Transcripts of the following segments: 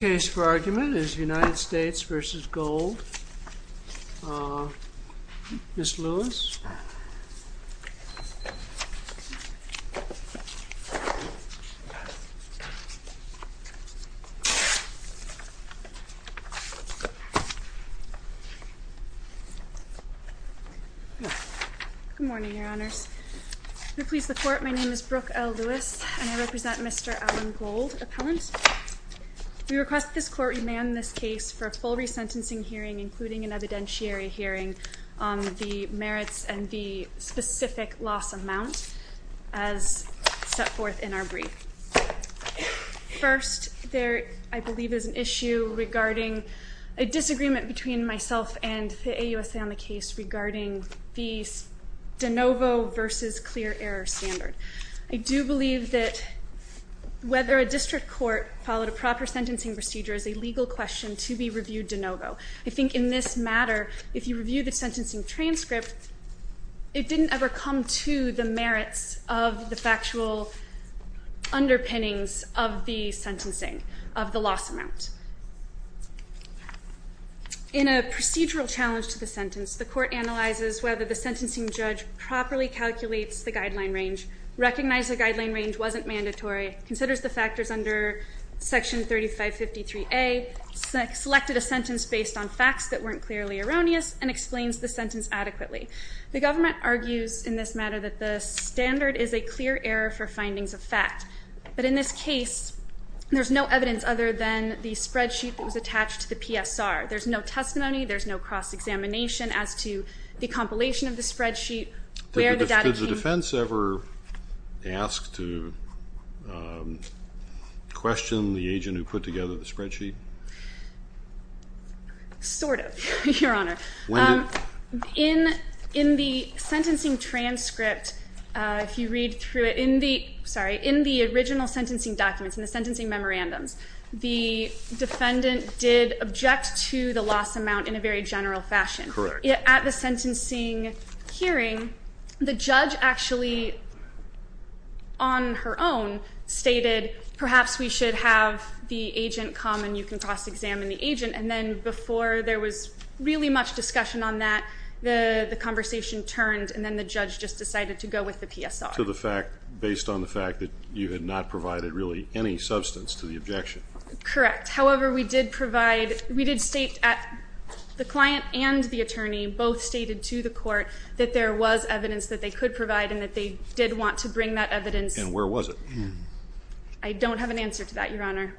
Case for argument is United States v. Gold. Ms. Lewis. Good morning, Your Honors. I'm pleased to report my name is Brooke L. Lewis, and I represent Mr. Alan Gold, appellant. We request this court remand this case for a full resentencing hearing, including an evidentiary hearing on the merits and the specific loss amount as set forth in our brief. First, there, I believe, is an issue regarding a disagreement between myself and the AUSA on the case regarding the de novo v. clear error standard. I do believe that whether a district court followed a proper sentencing procedure is a legal question to be reviewed de novo. I think in this matter, if you review the sentencing transcript, it didn't ever come to the merits of the factual underpinnings of the sentencing, of the loss amount. In a procedural challenge to the sentence, the court analyzes whether the sentencing judge properly calculates the guideline range, recognizes the guideline range wasn't mandatory, considers the factors under section 3553A, selected a sentence based on facts that weren't clearly erroneous, and explains the sentence adequately. The government argues in this matter that the standard is a clear error for findings of fact. But in this case, there's no evidence other than the spreadsheet that was attached to the PSR. There's no testimony. There's no cross-examination as to the compilation of the spreadsheet, where the data came from. Did the defense ever ask to question the agent who put together the spreadsheet? Sort of, Your Honor. When did? In the sentencing transcript, if you read through it, in the original sentencing documents, in the sentencing memorandums, the defendant did object to the loss amount in a very general fashion. Correct. At the sentencing hearing, the judge actually, on her own, stated, perhaps we should have the agent come and you can cross-examine the agent, and then before there was really much discussion on that, the conversation turned, and then the judge just decided to go with the PSR. Based on the fact that you had not provided really any substance to the objection. Correct. However, we did state at the client and the attorney, both stated to the court, that there was evidence that they could provide and that they did want to bring that evidence. And where was it? I don't have an answer to that, Your Honor.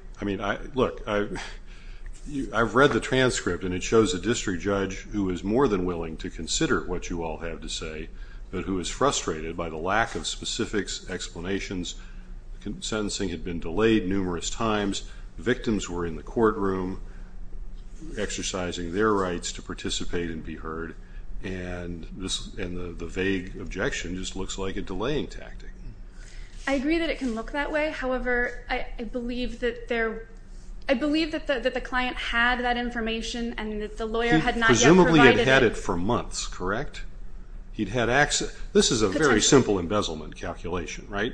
Look, I've read the transcript, and it shows a district judge who is more than willing to consider what you all have to say, but who is frustrated by the lack of specific explanations. Sentencing had been delayed numerous times. Victims were in the courtroom exercising their rights to participate and be heard, and the vague objection just looks like a delaying tactic. I agree that it can look that way. However, I believe that the client had that information and that the lawyer had not yet provided it. He presumably had had it for months, correct? This is a very simple embezzlement calculation, right?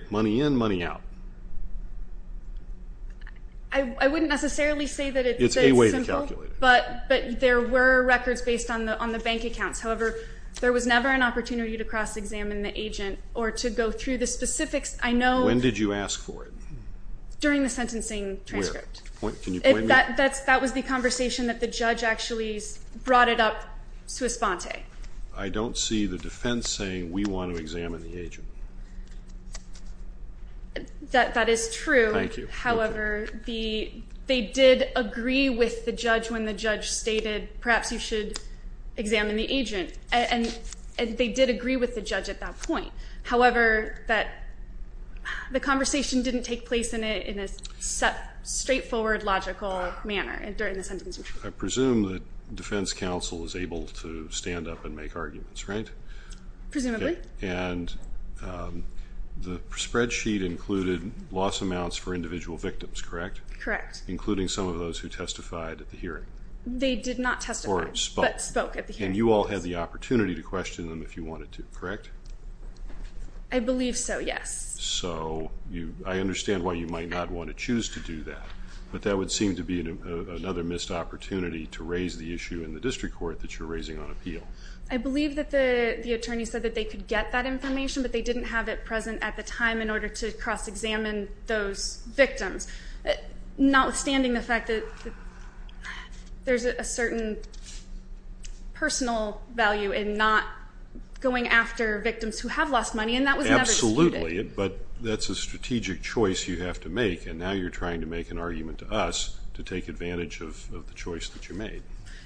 I wouldn't necessarily say that it's simple. It's a way to calculate it. But there were records based on the bank accounts. However, there was never an opportunity to cross-examine the agent or to go through the specifics. I know. When did you ask for it? During the sentencing transcript. Where? Can you point me? That was the conversation that the judge actually brought it up to Esponte. I don't see the defense saying, we want to examine the agent. That is true. Thank you. However, they did agree with the judge when the judge stated, perhaps you should examine the agent. And they did agree with the judge at that point. However, the conversation didn't take place in a straightforward, logical manner during the sentencing transcript. I presume that defense counsel is able to stand up and make arguments, right? Presumably. And the spreadsheet included loss amounts for individual victims, correct? Correct. Including some of those who testified at the hearing. They did not testify, but spoke at the hearing. And you all had the opportunity to question them if you wanted to, correct? I believe so, yes. So I understand why you might not want to choose to do that. But that would seem to be another missed opportunity to raise the issue in the district court that you're raising on appeal. I believe that the attorney said that they could get that information, but they didn't have it present at the time in order to cross-examine those victims. Notwithstanding the fact that there's a certain personal value in not going after victims who have lost money, and that was never disputed. Absolutely. But that's a strategic choice you have to make, and now you're trying to make an argument to us to take advantage of the choice that you made.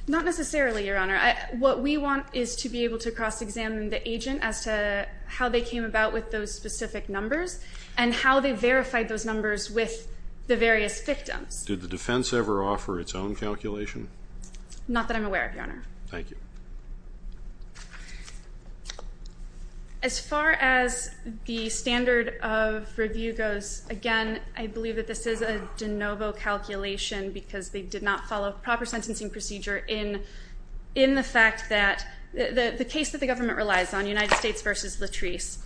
Not necessarily, Your Honor. What we want is to be able to cross-examine the agent as to how they came about with those specific numbers and how they verified those numbers with the various victims. Did the defense ever offer its own calculation? Not that I'm aware of, Your Honor. Thank you. As far as the standard of review goes, again, I believe that this is a de novo calculation because they did not follow proper sentencing procedure in the case that the government relies on, United States v. Latrice.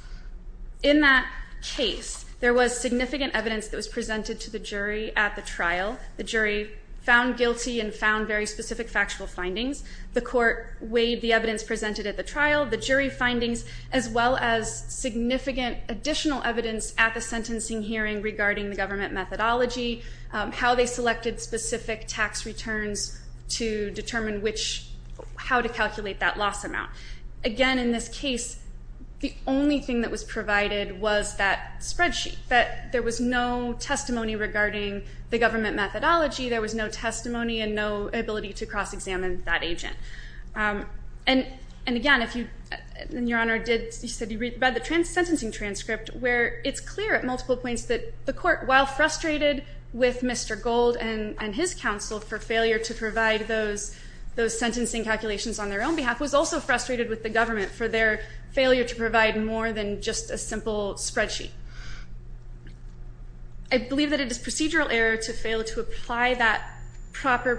In that case, there was significant evidence that was presented to the jury at the trial. The jury found guilty and found very specific factual findings. The court weighed the evidence presented at the trial, the jury findings, as well as significant additional evidence at the sentencing hearing regarding the government methodology, how they selected specific tax returns to determine how to calculate that loss amount. Again, in this case, the only thing that was provided was that spreadsheet. There was no testimony regarding the government methodology. There was no testimony and no ability to cross-examine that agent. Again, Your Honor, you said you read the sentencing transcript, where it's clear at multiple points that the court, while frustrated with Mr. Gold and his counsel for failure to provide those sentencing calculations on their own behalf, was also frustrated with the government for their failure to provide more than just a simple spreadsheet. I believe that it is procedural error to fail to apply that proper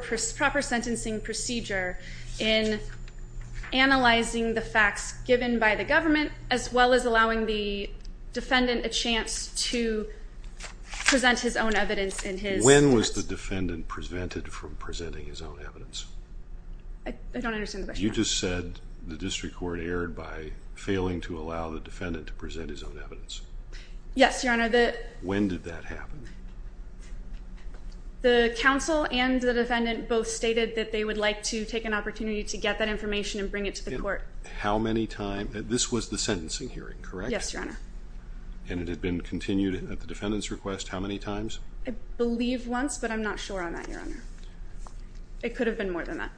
sentencing procedure in analyzing the facts given by the government as well as allowing the defendant a chance to present his own evidence in his test. When was the defendant prevented from presenting his own evidence? I don't understand the question. You just said the district court erred by failing to allow the defendant to present his own evidence. Yes, Your Honor. When did that happen? The counsel and the defendant both stated that they would like to take an opportunity to get that information and bring it to the court. How many times? This was the sentencing hearing, correct? Yes, Your Honor. And it had been continued at the defendant's request how many times? I believe once, but I'm not sure on that, Your Honor. It could have been more than that.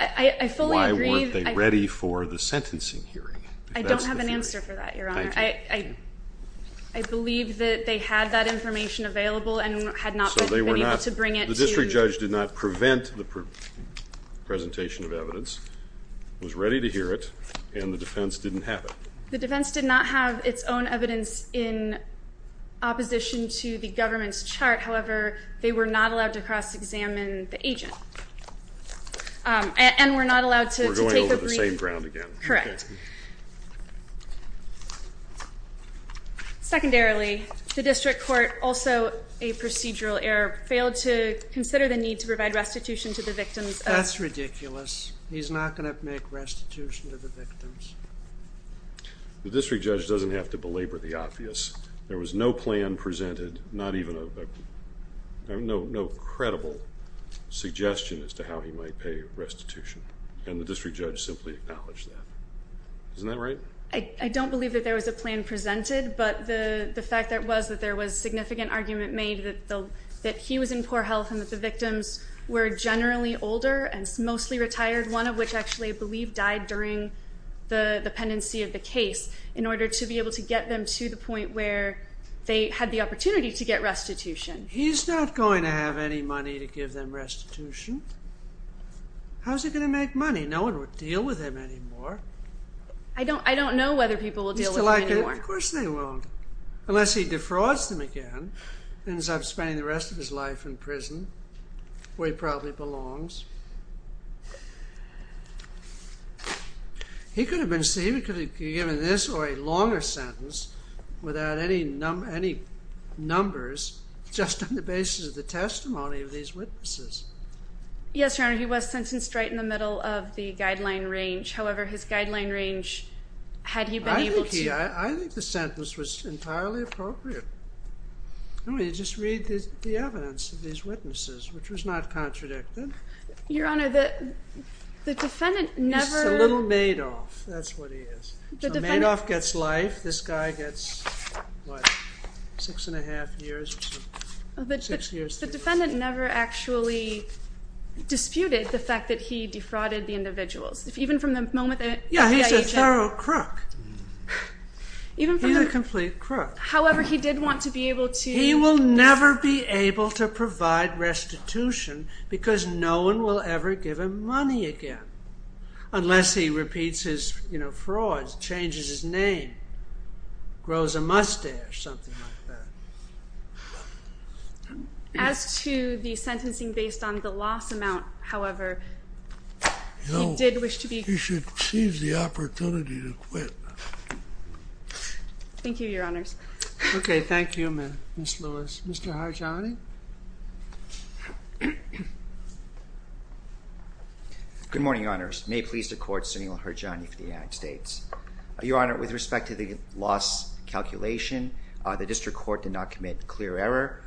I fully agree. Why weren't they ready for the sentencing hearing? I don't have an answer for that, Your Honor. Thank you. I believe that they had that information available and had not been able to bring it to the court. So the district judge did not prevent the presentation of evidence, was ready to hear it, and the defense didn't have it. The defense did not have its own evidence in opposition to the government's chart. However, they were not allowed to cross-examine the agent and were not allowed to take a brief. We're going over the same ground again. Correct. Secondarily, the district court, also a procedural error, failed to consider the need to provide restitution to the victims. That's ridiculous. He's not going to make restitution to the victims. The district judge doesn't have to belabor the obvious. There was no plan presented, not even a credible suggestion as to how he might pay restitution, and the district judge simply acknowledged that. Isn't that right? I don't believe that there was a plan presented, but the fact that it was, that there was significant argument made that he was in poor health and that the victims were generally older and mostly retired, one of which actually I believe died during the pendency of the case, in order to be able to get them to the point where they had the opportunity to get restitution. He's not going to have any money to give them restitution. How is he going to make money? No one would deal with him anymore. I don't know whether people will deal with him anymore. Of course they won't, unless he defrauds them again and ends up spending the rest of his life in prison, where he probably belongs. He could have been given this or a longer sentence without any numbers, just on the basis of the testimony of these witnesses. Yes, Your Honor, he was sentenced right in the middle of the guideline range. However, his guideline range, had he been able to- I think the sentence was entirely appropriate. You just read the evidence of these witnesses, which was not contradicted. Your Honor, the defendant never- He's a little Madoff. That's what he is. Madoff gets life. This guy gets, what, six and a half years or something. The defendant never actually disputed the fact that he defrauded the individuals. Even from the moment that- Yeah, he's a thorough crook. He's a complete crook. However, he did want to be able to- He will never be able to provide restitution, because no one will ever give him money again. Unless he repeats his frauds, changes his name, grows a mustache, something like that. As to the sentencing based on the loss amount, however, he did wish to be- No, he should seize the opportunity to quit. Thank you, Your Honors. Okay, thank you, Ms. Lewis. Mr. Harjani? Good morning, Your Honors. May it please the Court, Sunil Harjani for the United States. Your Honor, with respect to the loss calculation, the district court did not commit clear error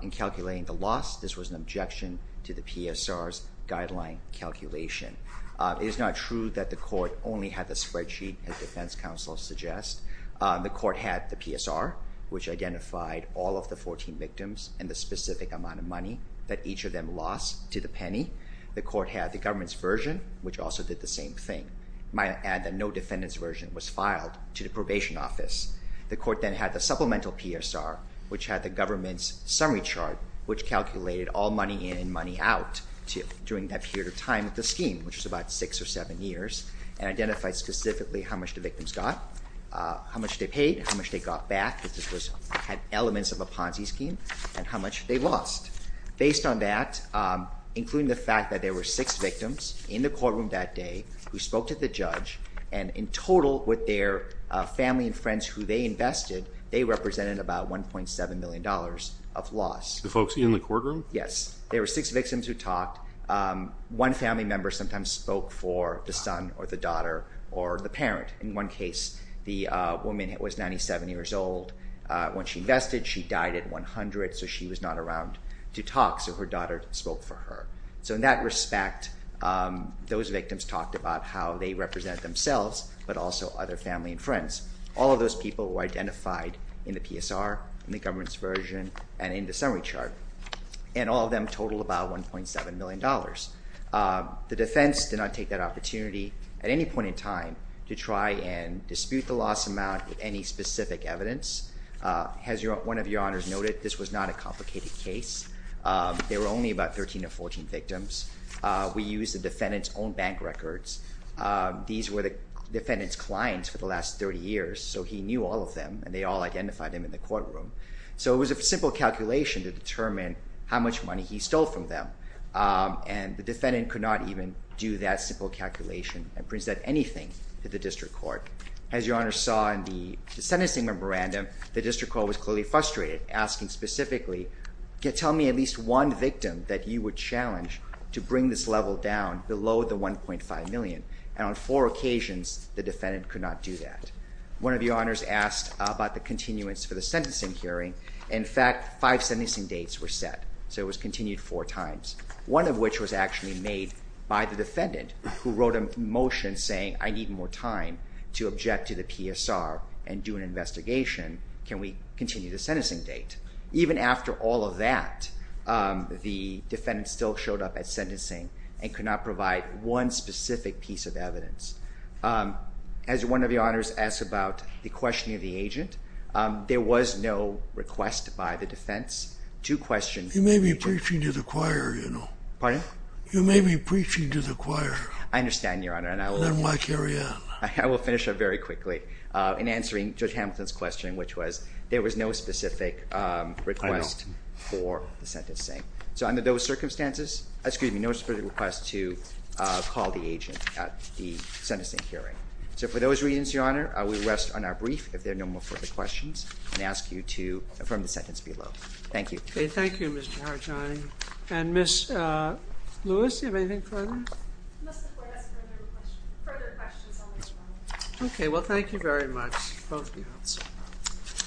in calculating the loss. This was an objection to the PSR's guideline calculation. It is not true that the court only had the spreadsheet as defense counsel suggests. The court had the PSR, which identified all of the 14 victims and the specific amount of money that each of them lost to the penny. The court had the government's version, which also did the same thing. May I add that no defendant's version was filed to the probation office. The court then had the supplemental PSR, which had the government's summary chart, which calculated all money in and money out during that period of time of the scheme, which was about six or seven years, and identified specifically how much the victims got, how much they paid, how much they got back, which had elements of a Ponzi scheme, and how much they lost. Based on that, including the fact that there were six victims in the courtroom that day who spoke to the judge, and in total with their family and friends who they invested, they represented about $1.7 million of loss. The folks in the courtroom? Yes. There were six victims who talked. One family member sometimes spoke for the son or the daughter or the parent. In one case, the woman was 97 years old when she invested. She died at 100, so she was not around to talk, so her daughter spoke for her. So in that respect, those victims talked about how they represented themselves but also other family and friends. All of those people were identified in the PSR, in the government's version, and in the summary chart, and all of them totaled about $1.7 million. The defense did not take that opportunity at any point in time to try and dispute the loss amount with any specific evidence. As one of your honors noted, this was not a complicated case. There were only about 13 or 14 victims. We used the defendant's own bank records. These were the defendant's clients for the last 30 years, so he knew all of them, and they all identified him in the courtroom. So it was a simple calculation to determine how much money he stole from them, and the defendant could not even do that simple calculation and present anything to the district court. As your honors saw in the sentencing memorandum, the district court was clearly frustrated, asking specifically, tell me at least one victim that you would challenge to bring this level down below the $1.5 million, and on four occasions, the defendant could not do that. One of your honors asked about the continuance for the sentencing hearing. In fact, five sentencing dates were set, so it was continued four times, one of which was actually made by the defendant, who wrote a motion saying, I need more time to object to the PSR and do an investigation. Can we continue the sentencing date? Even after all of that, the defendant still showed up at sentencing and could not provide one specific piece of evidence. As one of your honors asked about the questioning of the agent, there was no request by the defense to question the agent. You may be preaching to the choir, you know. Pardon? You may be preaching to the choir. I understand, your honor, and I will finish up very quickly in answering Judge Hamilton's question, which was there was no specific request for the sentencing. So under those circumstances, excuse me, no specific request to call the agent at the sentencing hearing. So for those reasons, your honor, we rest on our brief. If there are no more further questions, I ask you to affirm the sentence below. Thank you. Thank you, Mr. Harjani. And Ms. Lewis, do you have anything further? You must afford us further questions on this one. Okay. Well, thank you very much, both of you.